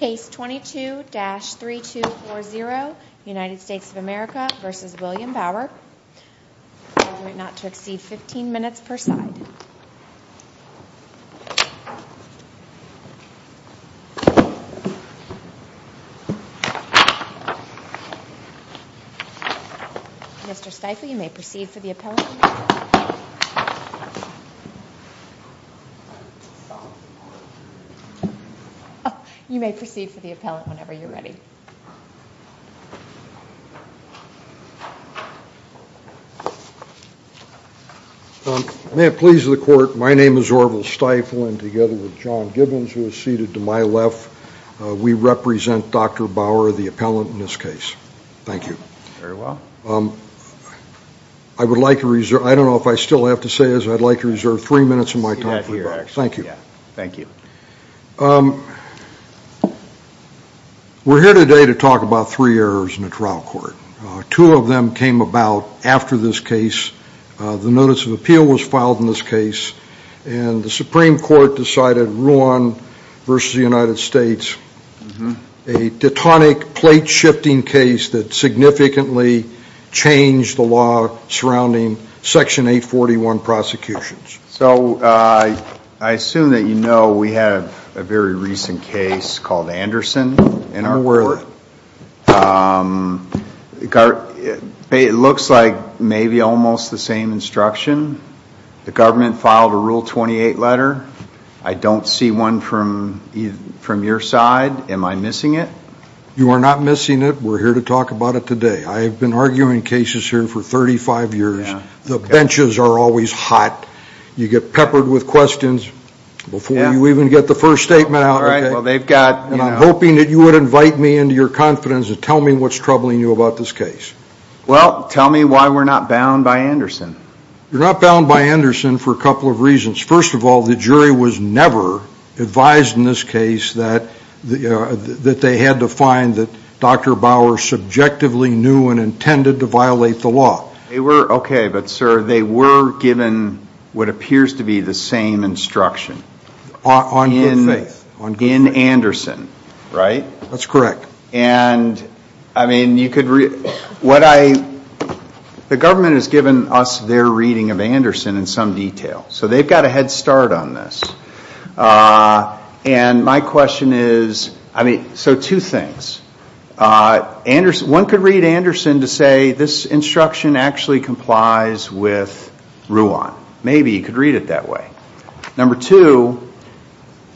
Case 22-3240, United States of America v. William Bauer I will do it not to exceed 15 minutes per side Mr. Stiefel, you may proceed for the appellate You may proceed for the appellate whenever you're ready May it please the court, my name is Orville Stiefel and together with John Gibbons who is seated to my left we represent Dr. Bauer, the appellant in this case Thank you Very well I would like to reserve, I don't know if I still have to say this I'd like to reserve three minutes of my time for the debate Thank you Thank you We're here today to talk about three errors in the trial court Two of them came about after this case The notice of appeal was filed in this case and the Supreme Court decided Ruan v. United States A platonic, plate-shifting case that significantly changed the law surrounding Section 841 prosecutions So I assume that you know we have a very recent case called Anderson in our court It looks like maybe almost the same instruction The government filed a Rule 28 letter I don't see one from your side Am I missing it? You are not missing it We're here to talk about it today I have been arguing cases here for 35 years The benches are always hot You get peppered with questions before you even get the first statement out And I'm hoping that you would invite me into your confidence and tell me what's troubling you about this case Well, tell me why we're not bound by Anderson You're not bound by Anderson for a couple of reasons First of all, the jury was never advised in this case that they had to find that Dr. Bauer subjectively knew and intended to violate the law Okay, but sir, they were given what appears to be the same instruction On good faith In Anderson Right That's correct And, I mean, you could read What I The government has given us their reading of Anderson in some detail So they've got a head start on this And my question is I mean, so two things One could read Anderson to say this instruction actually complies with Ruan Maybe you could read it that way Number two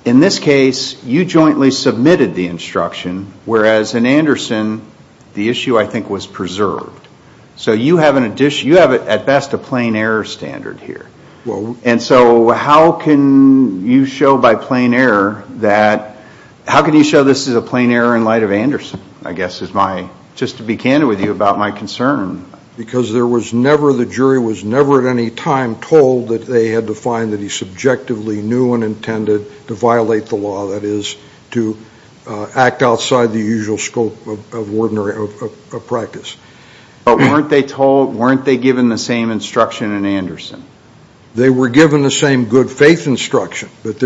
In this case you jointly submitted the instruction whereas in Anderson the issue, I think, was preserved So you have, at best, a plain error standard here And so how can you show by plain error that how can you show this is a plain error in light of Anderson I guess is my just to be candid with you about my concern Because there was never the jury was never at any time told that they had to find that he subjectively knew and intended to violate the law that is to act outside the usual scope of ordinary of practice But weren't they told Weren't they given the same instruction in Anderson They were given the same good faith instruction But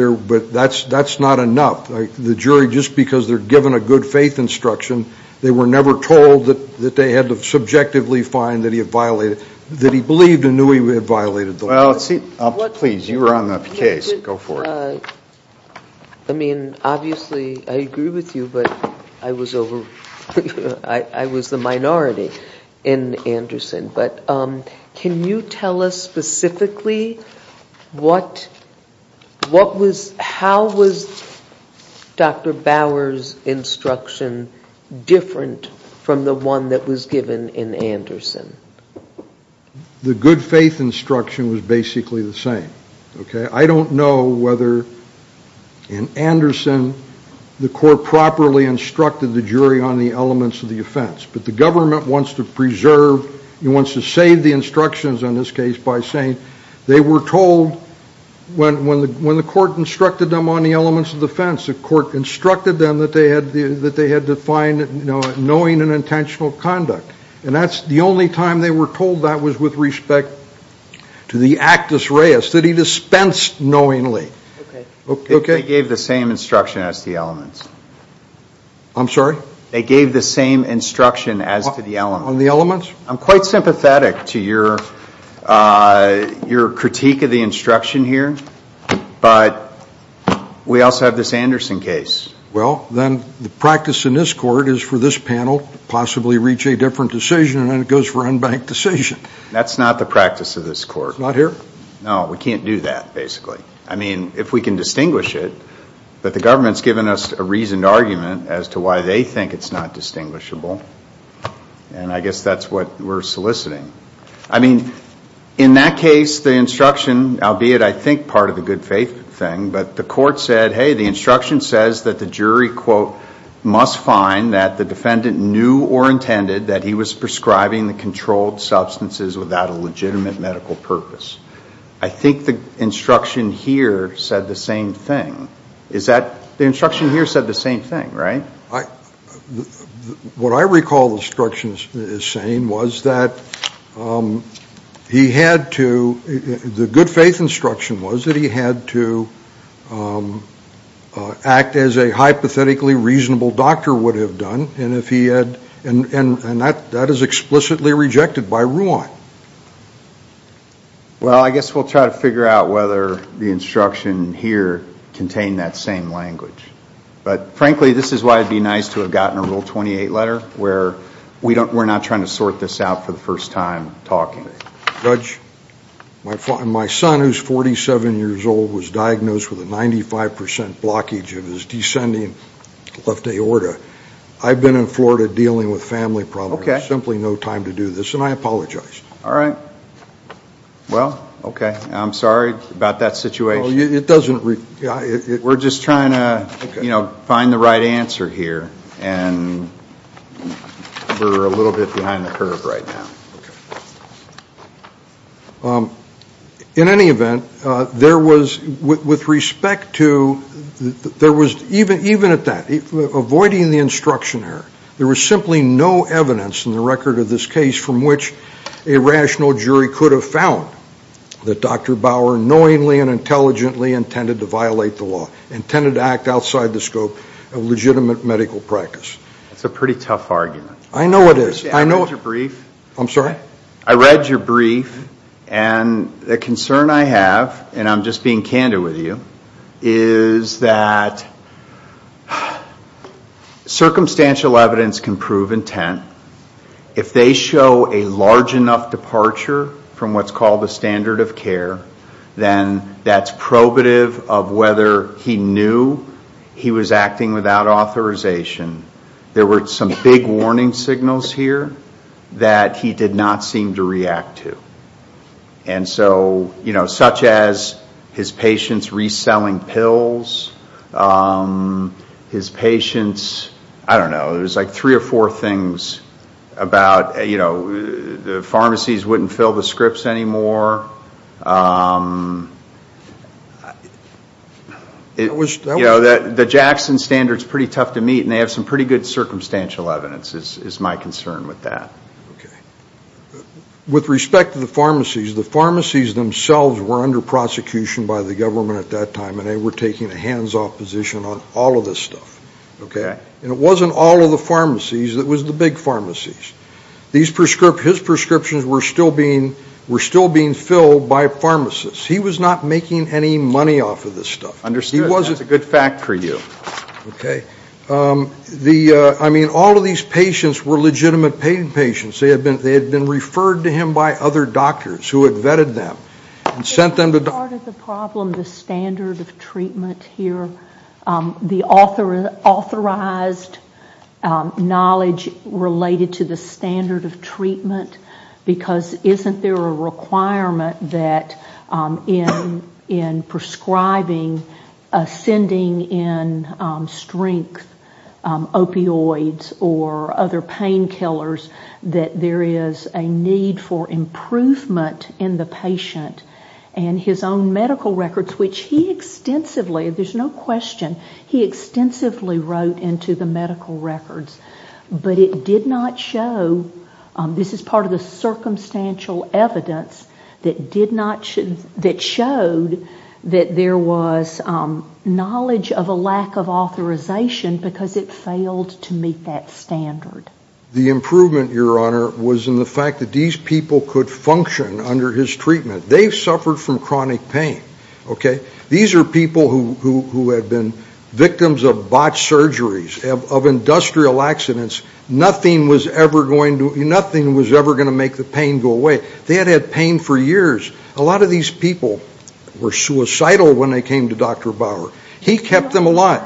that's not enough The jury, just because they're given a good faith instruction they were never told that they had to subjectively find that he had violated that he believed and knew he had violated the law Please, you were on the case Go for it I mean, obviously, I agree with you But I was over I was the minority in Anderson But can you tell us specifically what what was how was Dr. Bauer's instruction different from the one that was given in Anderson The good faith instruction was basically the same Okay, I don't know whether in Anderson the court properly instructed the jury on the elements of the offense but the government wants to preserve wants to save the instructions in this case by saying they were told when the court instructed them on the elements of the offense the court instructed them that they had to find knowing and intentional conduct and that's the only time they were told that was with respect to the actus reus that he dispensed knowingly Okay They gave the same instruction as the elements I'm sorry They gave the same instruction as to the elements On the elements I'm quite sympathetic to your your critique of the instruction here but we also have this Anderson case Well, then the practice in this court is for this panel to possibly reach a different decision and it goes for unbanked decision That's not the practice of this court It's not here? No, we can't do that, basically I mean, if we can distinguish it that the government's given us a reasoned argument as to why they think it's not distinguishable and I guess that's what we're soliciting I mean in that case, the instruction albeit, I think, part of the good faith thing but the court said Hey, the instruction says that the jury must find that the defendant knew or intended that he was prescribing the controlled substances without a legitimate medical purpose I think the instruction here said the same thing The instruction here said the same thing, right? What I recall the instruction is saying was that he had to the good faith instruction was that he had to act as a hypothetically reasonable doctor would have done and if he had and that is explicitly rejected by Ruan Well, I guess we'll try to figure out whether the instruction here contained that same language but frankly, this is why it would be nice to have gotten a Rule 28 letter where we're not trying to sort this out for the first time talking Judge my son, who's 47 years old was diagnosed with a 95% blockage of his descending left aorta I've been in Florida dealing with family problems there's simply no time to do this and I apologize All right Well, okay I'm sorry about that situation It doesn't We're just trying to find the right answer here and we're a little bit behind the curve right now In any event there was with respect to there was even at that avoiding the instruction here there was simply no evidence in the record of this case from which a rational jury could have found that Dr. Bauer knowingly and intelligently intended to violate the law intended to act outside the scope of legitimate medical practice That's a pretty tough argument I know it is I read your brief I'm sorry I read your brief and the concern I have and I'm just being candid with you is that circumstantial evidence can prove intent If they show a large enough departure from what's called the standard of care then that's probative of whether he knew he was acting without authorization There were some big warning signals here that he did not seem to react to and so you know such as his patients reselling pills his patients I don't know there's like three or four things about you know the pharmacies wouldn't fill the scripts anymore The Jackson standard is pretty tough to meet and they have some pretty good circumstantial evidence is my concern with that With respect to the pharmacies the pharmacies themselves were under prosecution by the government at that time and they were taking a hands-off position on all of this stuff It wasn't all of the pharmacies it was the big pharmacies His prescriptions were still being were still being filled by pharmacists He was not making any money off of this stuff Understood That's a good fact for you I mean all of these patients were legitimate paying patients They had been referred to him by other doctors who had vetted them and sent them to Part of the problem the standard of treatment here the authorized knowledge related to the standard of treatment because isn't there a requirement that in prescribing ascending in strength opioids or other painkillers that there is a need for improvement in the patient and his own medical records which he extensively there's no question he extensively wrote into the medical records but it did not show this is part of the circumstantial evidence that did not that showed that there was knowledge of a lack of authorization because it failed to meet that standard The improvement, your honor was in the fact that these people could function under his treatment They suffered from chronic pain These are people who had been victims of botched surgeries of industrial accidents Nothing was ever going to make the pain go away They had had pain for years A lot of these people were suicidal when they came to Dr. Bauer He kept them alive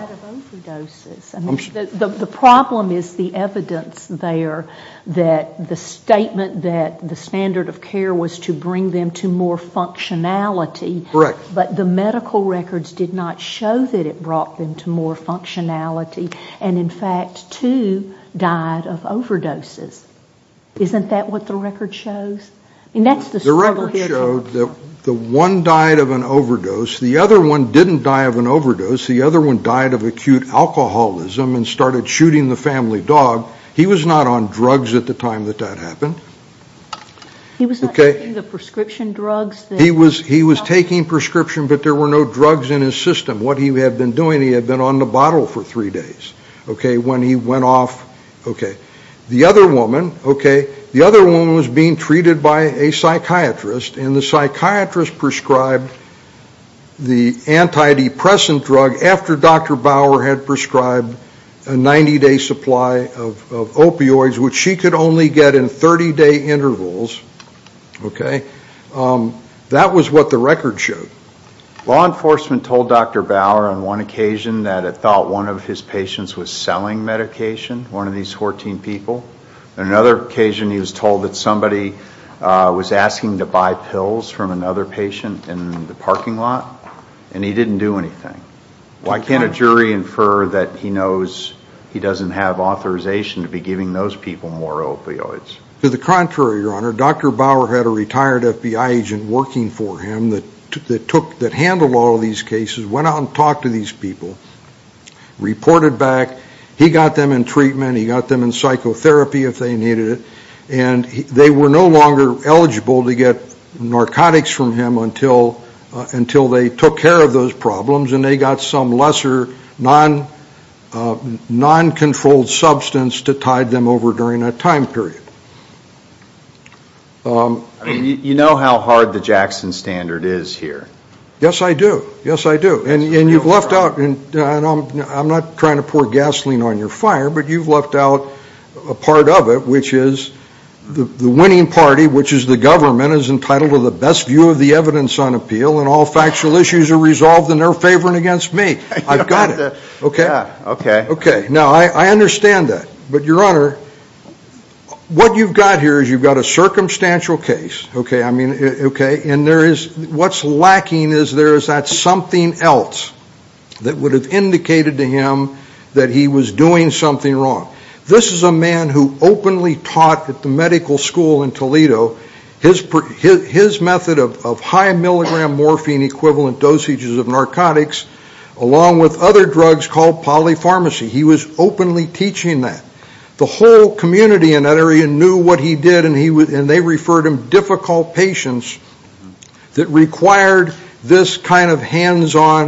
The problem is the evidence there that the statement that the standard of care was to bring them to more functionality but the medical records did not show that it brought them to more functionality and in fact two died of overdoses Isn't that what the record shows? The record showed that the one died of an overdose the other one didn't die of an overdose the other one died of acute alcoholism and started shooting the family dog He was not on drugs at the time that that happened He was not taking the prescription drugs He was taking prescription but there were no drugs in his system What he had been doing he had been on the bottle for three days When he went off The other woman The other woman was being treated by a psychiatrist and the psychiatrist prescribed the antidepressant drug after Dr. Bauer had prescribed a 90-day supply of opioids which she could only get in 30-day intervals That was what the record showed Law enforcement told Dr. Bauer on one occasion that it thought one of his patients was selling medication one of these 14 people On another occasion he was told that somebody was asking to buy pills from another patient in the parking lot and he didn't do anything Why can't a jury infer that he knows he doesn't have authorization to be giving those people more opioids? To the contrary, Your Honor Dr. Bauer had a retired FBI agent working for him that handled all of these cases went out and talked to these people reported back He got them in treatment He got them in psychotherapy if they needed it They were no longer eligible to get narcotics from him until they took care of those problems and they got some lesser non-controlled substance to tide them over during that time period You know how hard the Jackson Standard is here Yes I do Yes I do And you've left out I'm not trying to pour gasoline on your fire but you've left out a part of it which is the winning party, which is the government is entitled to the best view of the evidence on appeal and all factual issues are resolved and they're favoring against me I've got it Okay Now I understand that but Your Honor what you've got here is you've got a circumstantial case and there is what's lacking is there is that something else that would have indicated to him that he was doing something wrong This is a man who openly taught at the medical school in Toledo his method of high milligram morphine equivalent dosages of narcotics along with other drugs called polypharmacy He was openly teaching that The whole community in that area knew what he did and they referred him difficult patients that required this kind of hands-on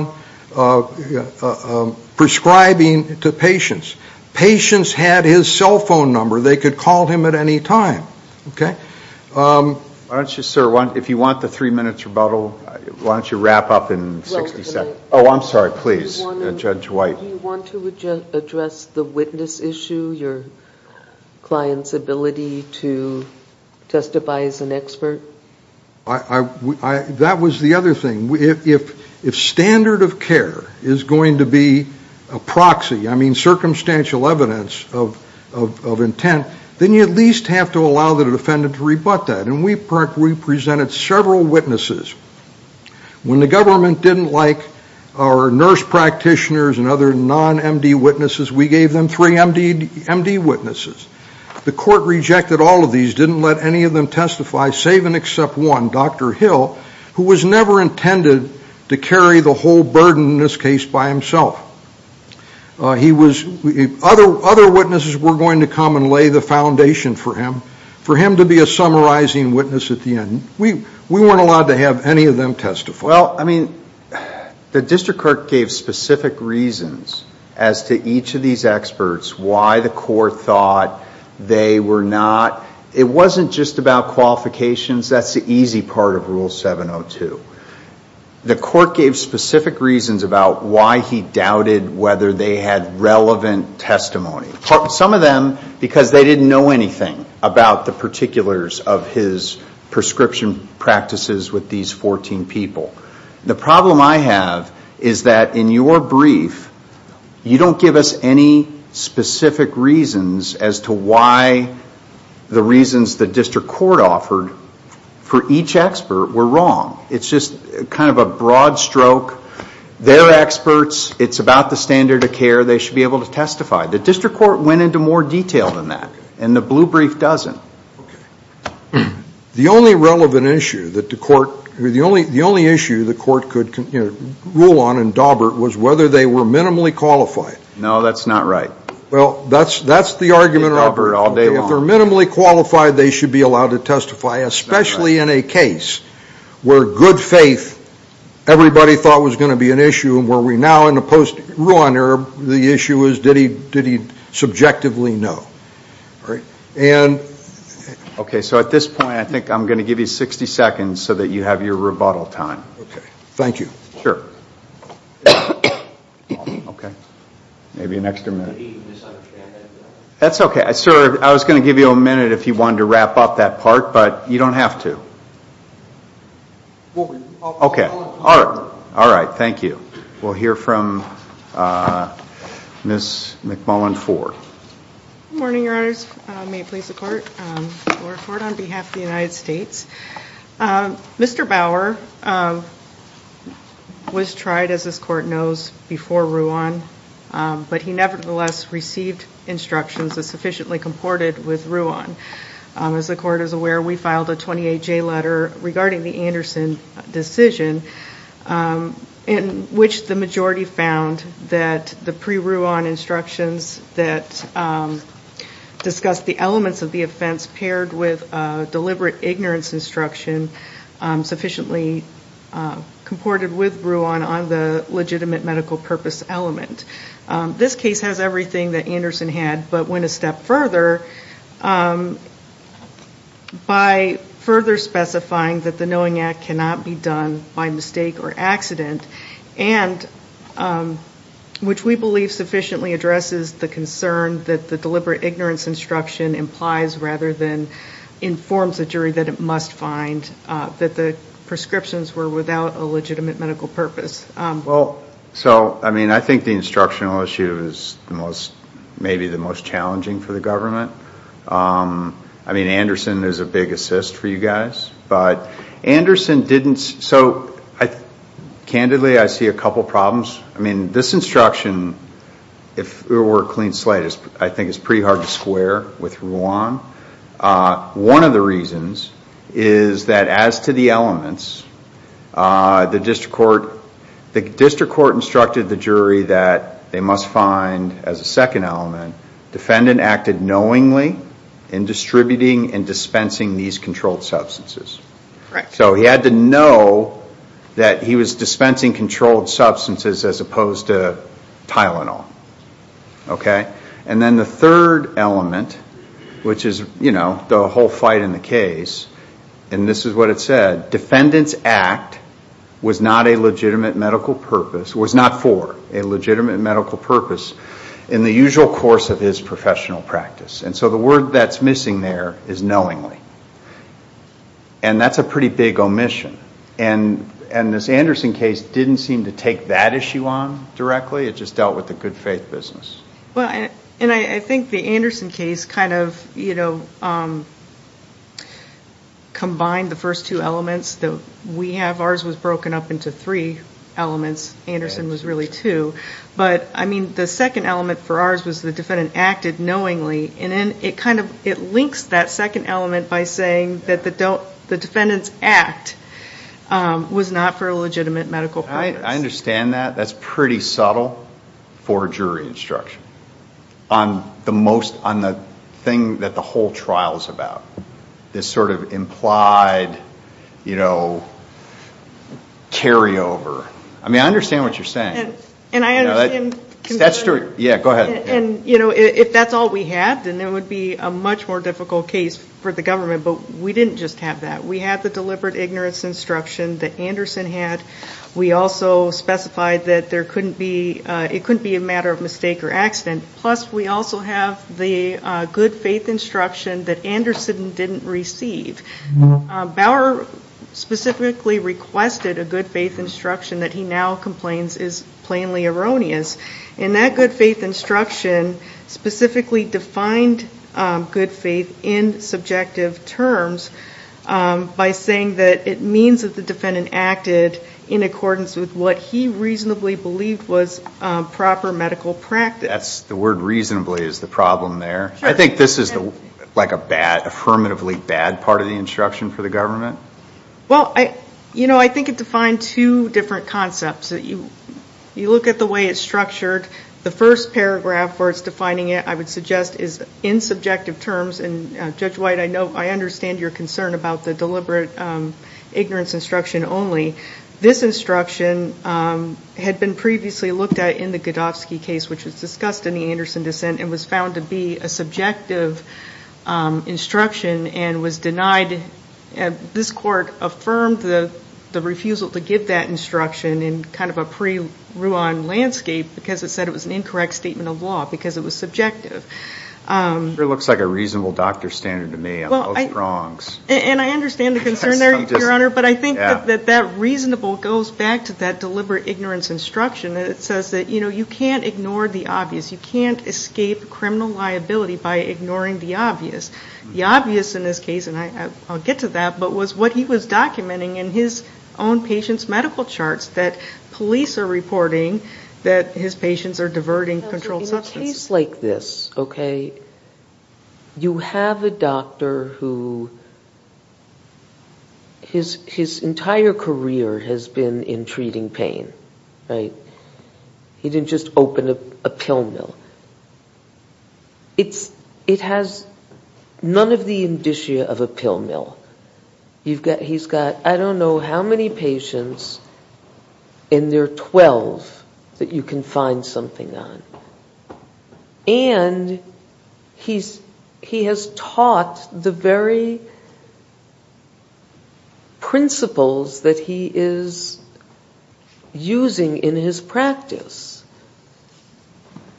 prescribing to patients Patients had his cell phone number They could call him at any time Okay Why don't you, sir If you want the three minutes rebuttal Why don't you wrap up in 60 seconds Oh, I'm sorry, please Judge White Do you want to address the witness issue your client's ability to testify as an expert? That was the other thing If standard of care is going to be a proxy I mean circumstantial evidence of intent then you at least have to allow the defendant to rebut that We presented several witnesses When the government didn't like our nurse practitioners and other non-M.D. witnesses we gave them three M.D. witnesses The court rejected all of these didn't let any of them testify save and except one, Dr. Hill who was never intended to carry the whole burden in this case by himself Other witnesses were going to come and lay the foundation for him for him to be a summarizing witness at the end We weren't allowed to have any of them testify Well, I mean the district court gave specific reasons as to each of these experts why the court thought they were not It wasn't just about qualifications That's the easy part of Rule 702 The court gave specific reasons about why he doubted whether they had relevant testimony Some of them because they didn't know anything about the particulars of his prescription practices with these 14 people The problem I have is that in your brief you don't give us any specific reasons as to why the reasons the district court offered for each expert were wrong It's just kind of a broad stroke They're experts It's about the standard of care They should be able to testify The district court went into more detail than that and the blue brief doesn't The only relevant issue that the court The only issue the court could rule on in Daubert was whether they were minimally qualified No, that's not right Well, that's the argument If they're minimally qualified they should be allowed to testify especially in a case where good faith everybody thought was going to be an issue and where we're now in the post-Ruan era where the issue is, did he subjectively know? Okay, so at this point I think I'm going to give you 60 seconds so that you have your rebuttal time Okay, thank you Sure Maybe an extra minute Did he misunderstand that? That's okay Sir, I was going to give you a minute if you wanted to wrap up that part but you don't have to All right, thank you We'll hear from Ms. McMullen Ford Good morning, Your Honors May it please the court Laura Ford on behalf of the United States Mr. Bauer was tried, as this court knows, before Ruan but he nevertheless received instructions that sufficiently comported with Ruan As the court is aware, we filed a 28-J letter regarding the Anderson decision in which the majority found that the pre-Ruan instructions that discussed the elements of the offense paired with deliberate ignorance instruction sufficiently comported with Ruan on the legitimate medical purpose element This case has everything that Anderson had but went a step further by further specifying that the Knowing Act cannot be done by mistake or accident which we believe sufficiently addresses the concern that the deliberate ignorance instruction implies rather than informs the jury that it must find that the prescriptions were without a legitimate medical purpose I think the instructional issue is maybe the most challenging for the government I mean, Anderson is a big assist for you guys but Anderson didn't... So, candidly, I see a couple problems I mean, this instruction if it were a clean slate I think it's pretty hard to square with Ruan One of the reasons is that as to the elements the district court the district court instructed the jury that they must find, as a second element defendant acted knowingly in distributing and dispensing these controlled substances So he had to know that he was dispensing controlled substances as opposed to Tylenol And then the third element which is, you know, the whole fight in the case and this is what it said defendant's act was not a legitimate medical purpose was not for a legitimate medical purpose in the usual course of his professional practice and so the word that's missing there is knowingly and that's a pretty big omission and this Anderson case didn't seem to take that issue on directly it just dealt with the good faith business Well, and I think the Anderson case kind of, you know combined the first two elements that we have ours was broken up into three elements Anderson was really two but, I mean, the second element for ours was the defendant acted knowingly and then it kind of, it links that second element by saying that the defendant's act was not for a legitimate medical purpose I understand that that's pretty subtle for jury instruction on the most, on the thing that the whole trial is about this sort of implied you know carry over I mean, I understand what you're saying And I understand Yeah, go ahead And, you know, if that's all we had then it would be a much more difficult case for the government but we didn't just have that we had the deliberate ignorance instruction that Anderson had we also specified that there couldn't be it couldn't be a matter of mistake or accident plus we also have the good faith instruction that Anderson didn't receive Bauer specifically requested a good faith instruction that he now complains is plainly erroneous and that good faith instruction specifically defined good faith in subjective terms by saying that it means that the defendant acted in accordance with what he reasonably believed was proper medical practice That's the word reasonably is the problem there I think this is the like a bad, affirmatively bad part of the instruction for the government Well, I You know, I think it defined two different concepts You look at the way it's structured The first paragraph where it's defining it I would suggest is in subjective terms and Judge White, I know I understand your concern about the deliberate ignorance instruction only This instruction had been previously looked at in the Godofsky case which was discussed in the Anderson dissent and was found to be a subjective instruction and was denied and this court affirmed the refusal to give that instruction in kind of a pre-Rwan landscape because it said it was an incorrect statement of law because it was subjective It looks like a reasonable doctor standard to me I'm both wrongs And I understand the concern there, Your Honor but I think that that reasonable goes back to that deliberate ignorance instruction It says that, you know, you can't ignore the obvious You can't escape criminal liability by ignoring the obvious The obvious in this case, and I'll get to that but was what he was documenting in his own patient's medical charts that police are reporting that his patients are diverting controlled substances In a case like this, okay you have a doctor who his entire career has been in treating pain He didn't just open a pill mill It has none of the indicia of a pill mill He's got, I don't know how many patients in their 12 that you can find something on And he has taught the very principles that he is using in his practice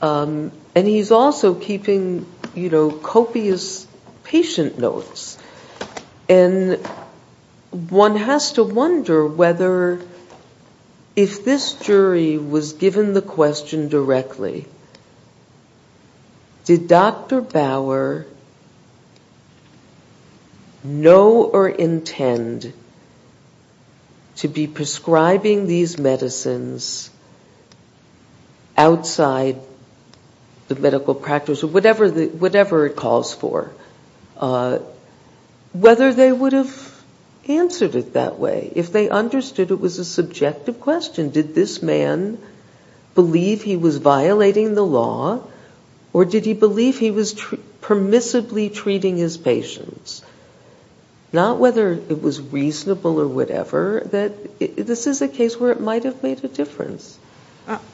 And he's also keeping, you know, copious patient notes And one has to wonder whether if this jury was given the question directly Did Dr. Bauer know or intend to be prescribing these medicines outside the medical practice or whatever it calls for whether they would have answered it that way If they understood it was a subjective question Did this man believe he was violating the law or did he believe he was permissibly treating his patients Not whether it was reasonable or whatever This is a case where it might have made a difference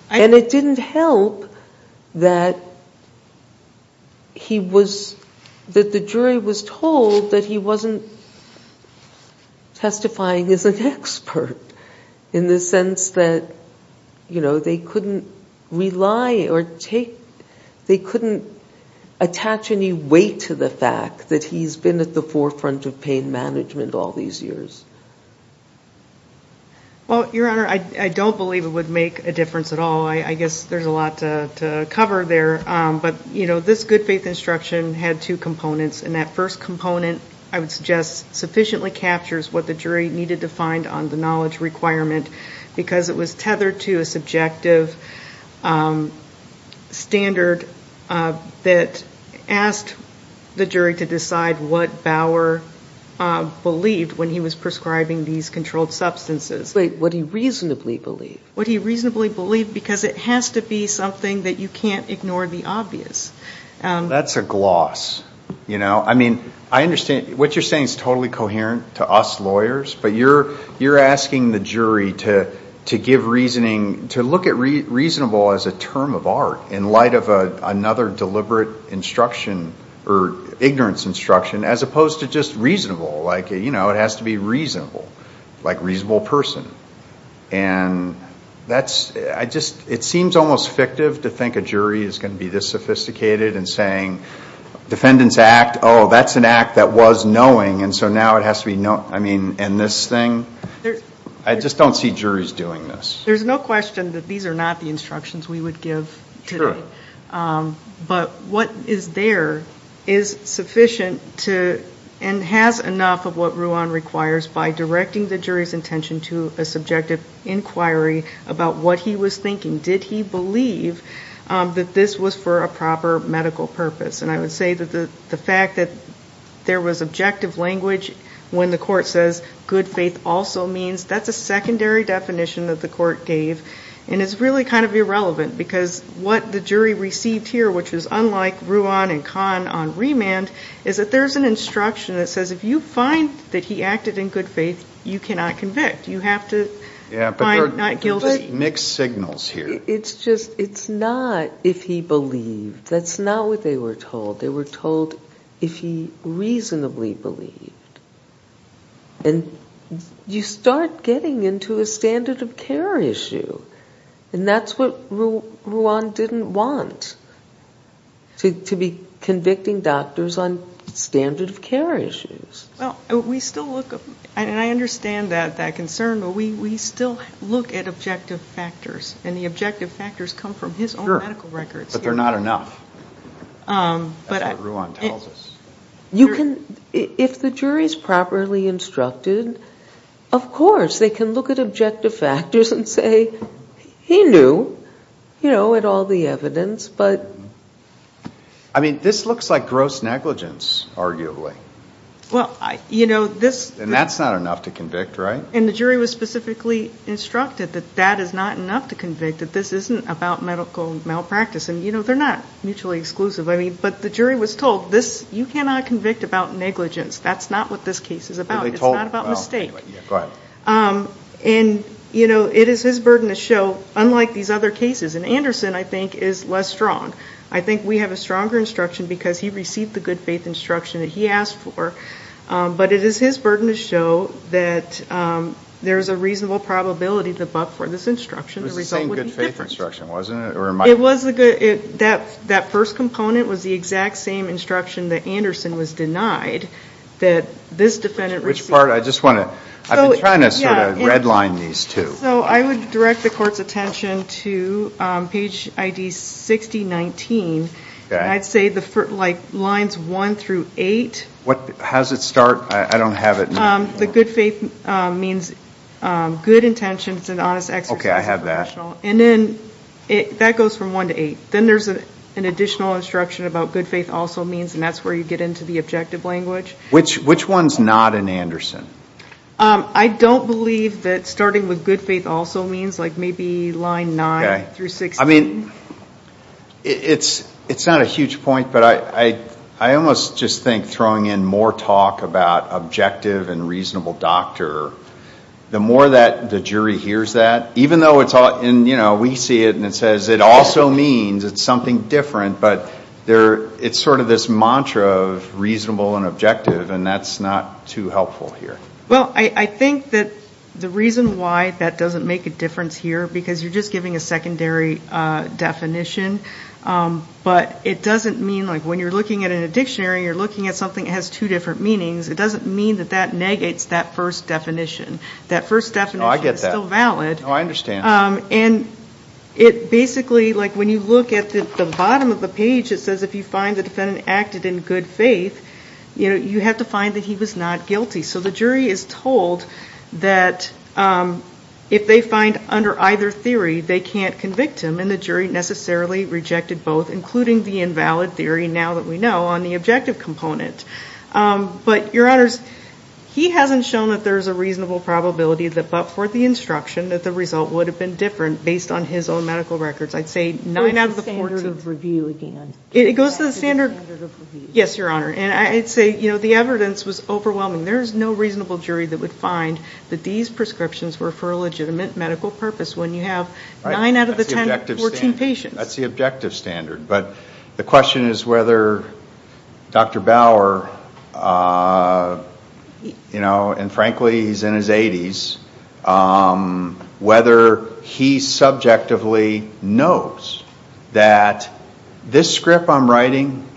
And it didn't help that the jury was told that he wasn't testifying as an expert In the sense that they couldn't rely or take They couldn't attach any weight to the fact that he's been at the forefront of pain management all these years Well, Your Honor, I don't believe it would make a difference at all I guess there's a lot to cover there But, you know, this good faith instruction had two components And that first component, I would suggest, sufficiently captures what the jury needed to find on the knowledge requirement Because it was tethered to a subjective standard that asked the jury to decide what Bauer believed when he was prescribing these controlled substances What he reasonably believed Because it has to be something that you can't ignore the obvious That's a gloss What you're saying is totally coherent to us lawyers But you're asking the jury to look at reasonable as a term of art In light of another deliberate instruction Or ignorance instruction As opposed to just reasonable Like, you know, it has to be reasonable Like reasonable person And it seems almost fictive to think a jury is going to be this sophisticated And saying, defendant's act, oh, that's an act that was knowing And so now it has to be knowing I just don't see juries doing this There's no question that these are not the instructions we would give today Sure But what is there is sufficient to And has enough of what Ruan requires By directing the jury's intention to a subjective inquiry About what he was thinking Did he believe that this was for a proper medical purpose And I would say that the fact that there was objective language When the court says good faith also means That's a secondary definition that the court gave And it's really kind of irrelevant Because what the jury received here, which is unlike Ruan and Kahn on remand Is that there's an instruction that says If you find that he acted in good faith, you cannot convict You have to find not guilty Mixed signals here It's not if he believed That's not what they were told They were told if he reasonably believed And you start getting into a standard of care issue And that's what Ruan didn't want To be convicting doctors on standard of care issues Well, we still look And I understand that concern But we still look at objective factors And the objective factors come from his own medical records But they're not enough That's what Ruan tells us If the jury's properly instructed Of course they can look at objective factors and say He knew, you know, at all the evidence But I mean, this looks like gross negligence, arguably And that's not enough to convict, right? And the jury was specifically instructed That that is not enough to convict That this isn't about medical malpractice And they're not mutually exclusive But the jury was told You cannot convict about negligence That's not what this case is about It's not about mistake And it is his burden to show Unlike these other cases And Anderson, I think, is less strong I think we have a stronger instruction Because he received the good faith instruction that he asked for But it is his burden to show That there's a reasonable probability The buck for this instruction It was the same good faith instruction, wasn't it? That first component was the exact same instruction That Anderson was denied Which part? I've been trying to redline these two So I would direct the court's attention to Page ID 6019 And I'd say lines 1 through 8 How does it start? I don't have it The good faith means good intention It's an honest exercise That goes from 1 to 8 Then there's an additional instruction about good faith also means And that's where you get into the objective language Which one's not in Anderson? I don't believe that starting with good faith also means Like maybe line 9 through 16 It's not a huge point But I almost just think throwing in more talk About objective and reasonable doctor The more the jury hears that Even though we see it and it says It also means it's something different It's sort of this mantra of reasonable and objective And that's not too helpful here I think that the reason why that doesn't make a difference here Because you're just giving a secondary definition But it doesn't mean Like when you're looking at a dictionary You're looking at something that has two different meanings It doesn't mean that that negates that first definition That first definition is still valid And it basically Like when you look at the bottom of the page It says if you find the defendant acted in good faith You have to find that he was not guilty So the jury is told that If they find under either theory they can't convict him And the jury necessarily rejected both Including the invalid theory now that we know On the objective component But your honors He hasn't shown that there's a reasonable probability But for the instruction that the result would have been different Based on his own medical records I'd say 9 out of the 14 It goes to the standard of review Yes your honor And I'd say the evidence was overwhelming There's no reasonable jury that would find that these prescriptions Were for a legitimate medical purpose When you have 9 out of the 14 patients That's the objective standard But the question is whether Dr. Bauer And frankly he's in his 80s Whether he subjectively knows That this script I'm writing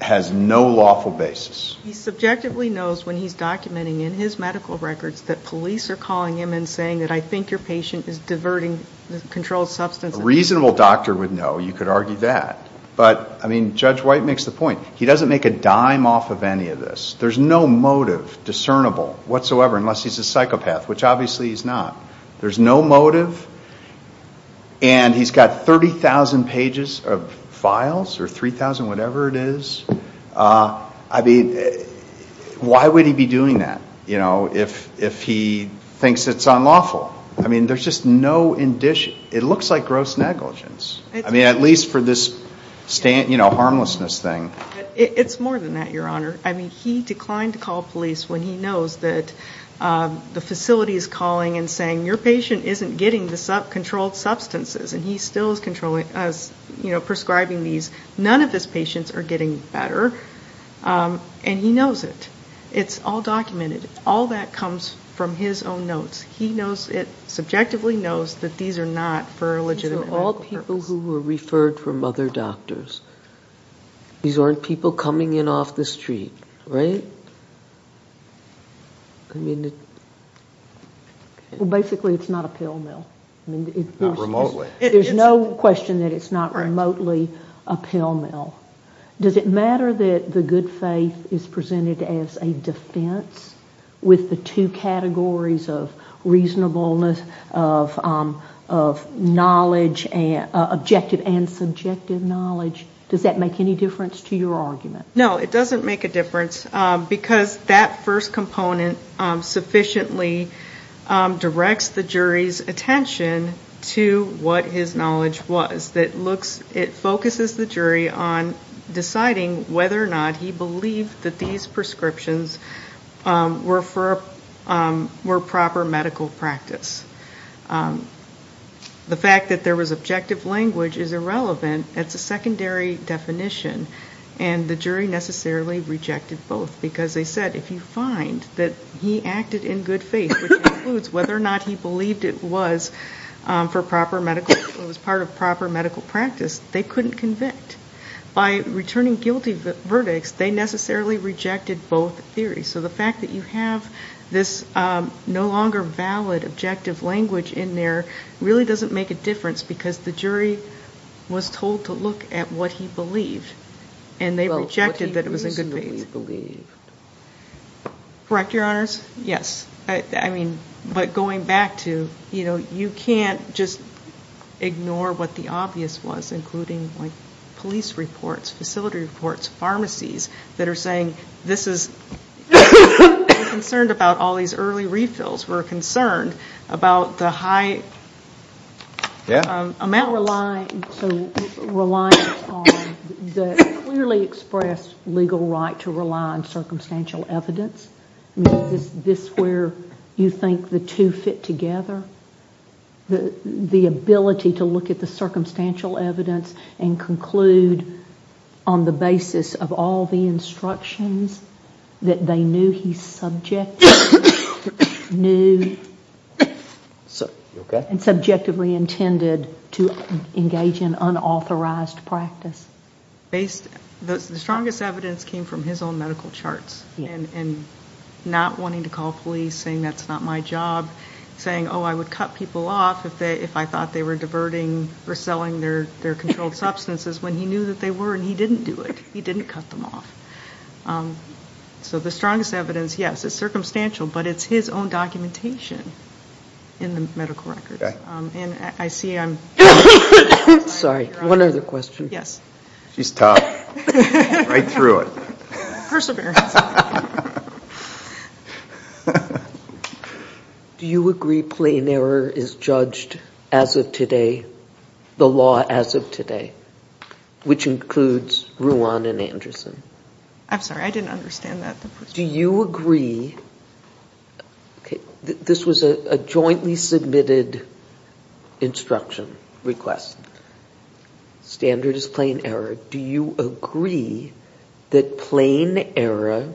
Has no lawful basis He subjectively knows when he's documenting in his medical records That police are calling him and saying That I think your patient is diverting the controlled substance A reasonable doctor would know you could argue that But Judge White makes the point He doesn't make a dime off of any of this There's no motive discernible whatsoever Unless he's a psychopath which obviously he's not There's no motive And he's got 30,000 pages of files Or 3,000 whatever it is Why would he be doing that If he thinks it's unlawful There's just no indication It looks like gross negligence At least for this harmlessness thing It's more than that your honor I mean he declined to call police When he knows that the facility is calling And saying your patient isn't getting the controlled substances And he still is prescribing these None of his patients are getting better And he knows it It's all documented All that comes from his own notes He knows it subjectively knows These are all people who were referred from other doctors These aren't people coming in off the street Right? I mean Well basically it's not a pill mill There's no question that it's not remotely a pill mill Does it matter that the good faith Is presented as a defense With the two categories of reasonableness Of knowledge Objective and subjective knowledge Does that make any difference to your argument No it doesn't make a difference Because that first component sufficiently Directs the jury's attention To what his knowledge was It focuses the jury on deciding Whether or not he believed That these prescriptions Were proper medical practice The fact that there was objective language Is irrelevant It's a secondary definition And the jury necessarily rejected both Because they said if you find That he acted in good faith Which includes whether or not he believed it was For proper medical It was part of proper medical practice They couldn't convict By returning guilty verdicts They necessarily rejected both theories So the fact that you have this no longer valid Objective language in there Really doesn't make a difference Because the jury was told to look at what he believed And they rejected that it was in good faith Correct your honors? Yes, but going back to You can't just ignore what the obvious was Including police reports Facility reports, pharmacies That are saying We're concerned about all these early refills We're concerned about the high Reliance on The clearly expressed legal right To rely on circumstantial evidence Is this where you think the two fit together? The ability to look at the circumstantial evidence And conclude On the basis of all the instructions That they knew he subjectively Knew And subjectively intended To engage in unauthorized practice The strongest evidence came from his own medical charts And not wanting to call police Saying that's not my job Saying I would cut people off if I thought they were Diverting or selling their controlled substances When he knew that they were and he didn't do it He didn't cut them off So the strongest evidence, yes, is circumstantial But it's his own documentation in the medical records And I see I'm Sorry, one other question She's tough, right through it Perseverance Do you agree plain error is judged As of today The law as of today Which includes Ruan and Anderson I'm sorry, I didn't understand that Do you agree This was a jointly submitted instruction Request Standard is plain error Do you agree that plain error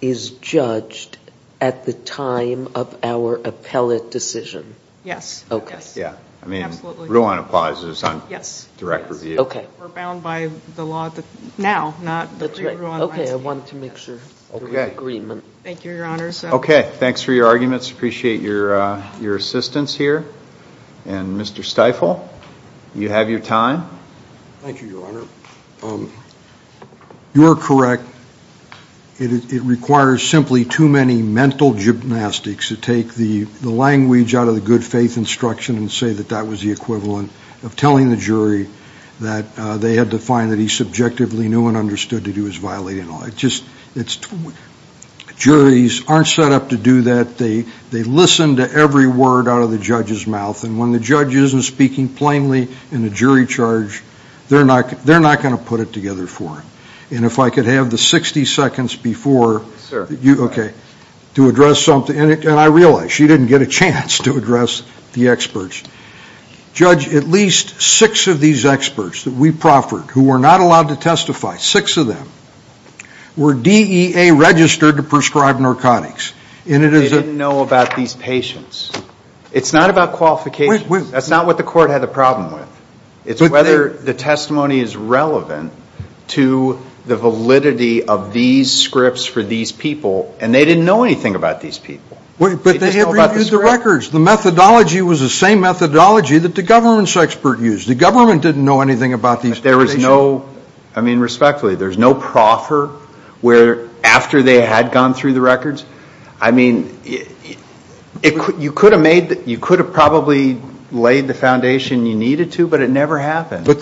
Is judged at the time of our appellate decision Yes Ruan applies We're bound by the law now Okay, I wanted to make sure Okay, thanks for your arguments Appreciate your assistance here And Mr. Stifel, you have your time Thank you, your honor You're correct It requires simply too many mental gymnastics To take the language out of the good faith instruction And say that that was the equivalent of telling the jury That they had to find that he subjectively knew And understood that he was violating Juries aren't set up to do that They listen to every word out of the judge's mouth And when the judge isn't speaking plainly in a jury charge They're not going to put it together for him And if I could have the 60 seconds before To address something And I realize she didn't get a chance to address the experts Judge, at least 6 of these experts That we proffered, who were not allowed to testify 6 of them Were DEA registered to prescribe narcotics They didn't know about these patients It's not about qualifications That's not what the court had a problem with It's whether the testimony is relevant To the validity of these scripts for these people And they didn't know anything about these people But they reviewed the records The methodology was the same methodology that the government's expert used The government didn't know anything about these patients Respectfully, there's no proffer Where after they had gone through the records You could have probably laid the foundation you needed to But it never happened The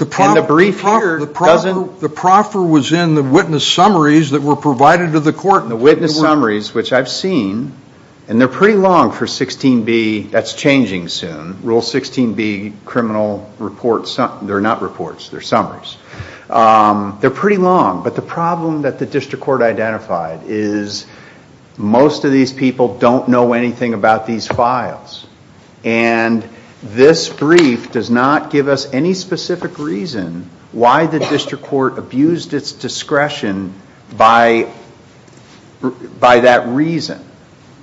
proffer was in the witness summaries that were provided to the court The witness summaries, which I've seen And they're pretty long for 16b That's changing soon They're not reports, they're summaries They're pretty long But the problem that the district court identified is Most of these people don't know anything about these files And this brief does not give us any specific reason Why the district court abused its discretion By that reason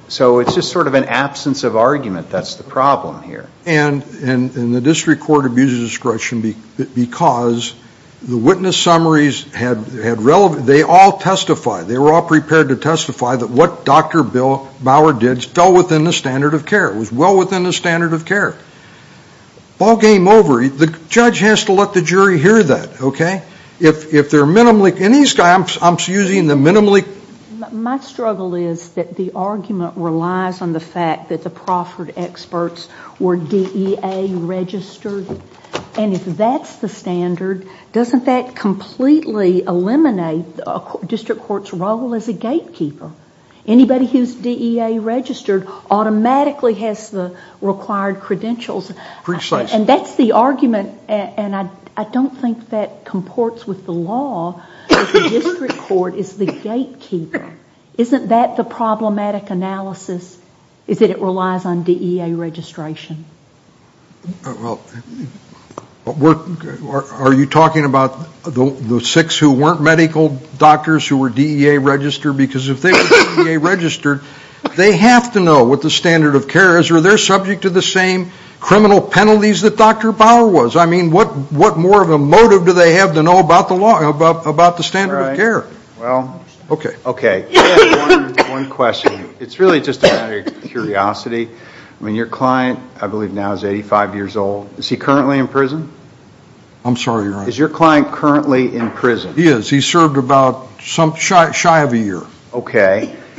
So it's just sort of an absence of argument That's the problem here And the district court abused its discretion Because the witness summaries They all testified They were all prepared to testify That what Dr. Bauer did fell within the standard of care It was well within the standard of care Ballgame over The judge has to let the jury hear that And these guys, I'm using the minimally My struggle is that the argument relies on the fact That the proffered experts were DEA registered And if that's the standard Doesn't that completely eliminate The district court's role as a gatekeeper Anybody who's DEA registered Automatically has the required credentials And that's the argument And I don't think that comports with the law That the district court is the gatekeeper Isn't that the problematic analysis Is that it relies on DEA registration Are you talking about The six who weren't medical doctors Who were DEA registered Because if they were DEA registered They have to know what the standard of care is Or they're subject to the same criminal penalties That Dr. Bauer was What more of a motive do they have to know About the standard of care One question It's really just a matter of curiosity Your client, I believe now is 85 years old Is he currently in prison Is your client currently in prison He is, he served about shy of a year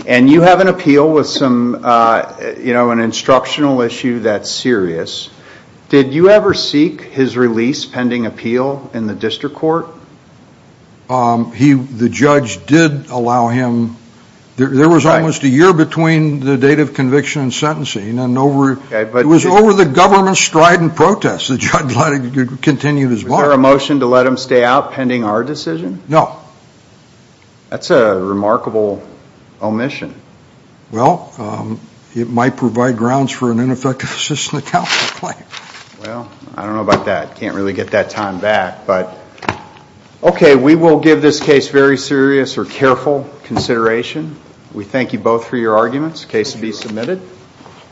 And you have an appeal with an instructional issue That's serious Did you ever seek his release pending appeal In the district court The judge did allow him There was almost a year between the date of conviction And sentencing It was over the government's strident protest Was there a motion to let him stay out pending our decision No That's a remarkable omission It might provide grounds for an ineffective assistance account I don't know about that I can't really get that time back We will give this case very serious or careful consideration We thank you both for your arguments Case to be submitted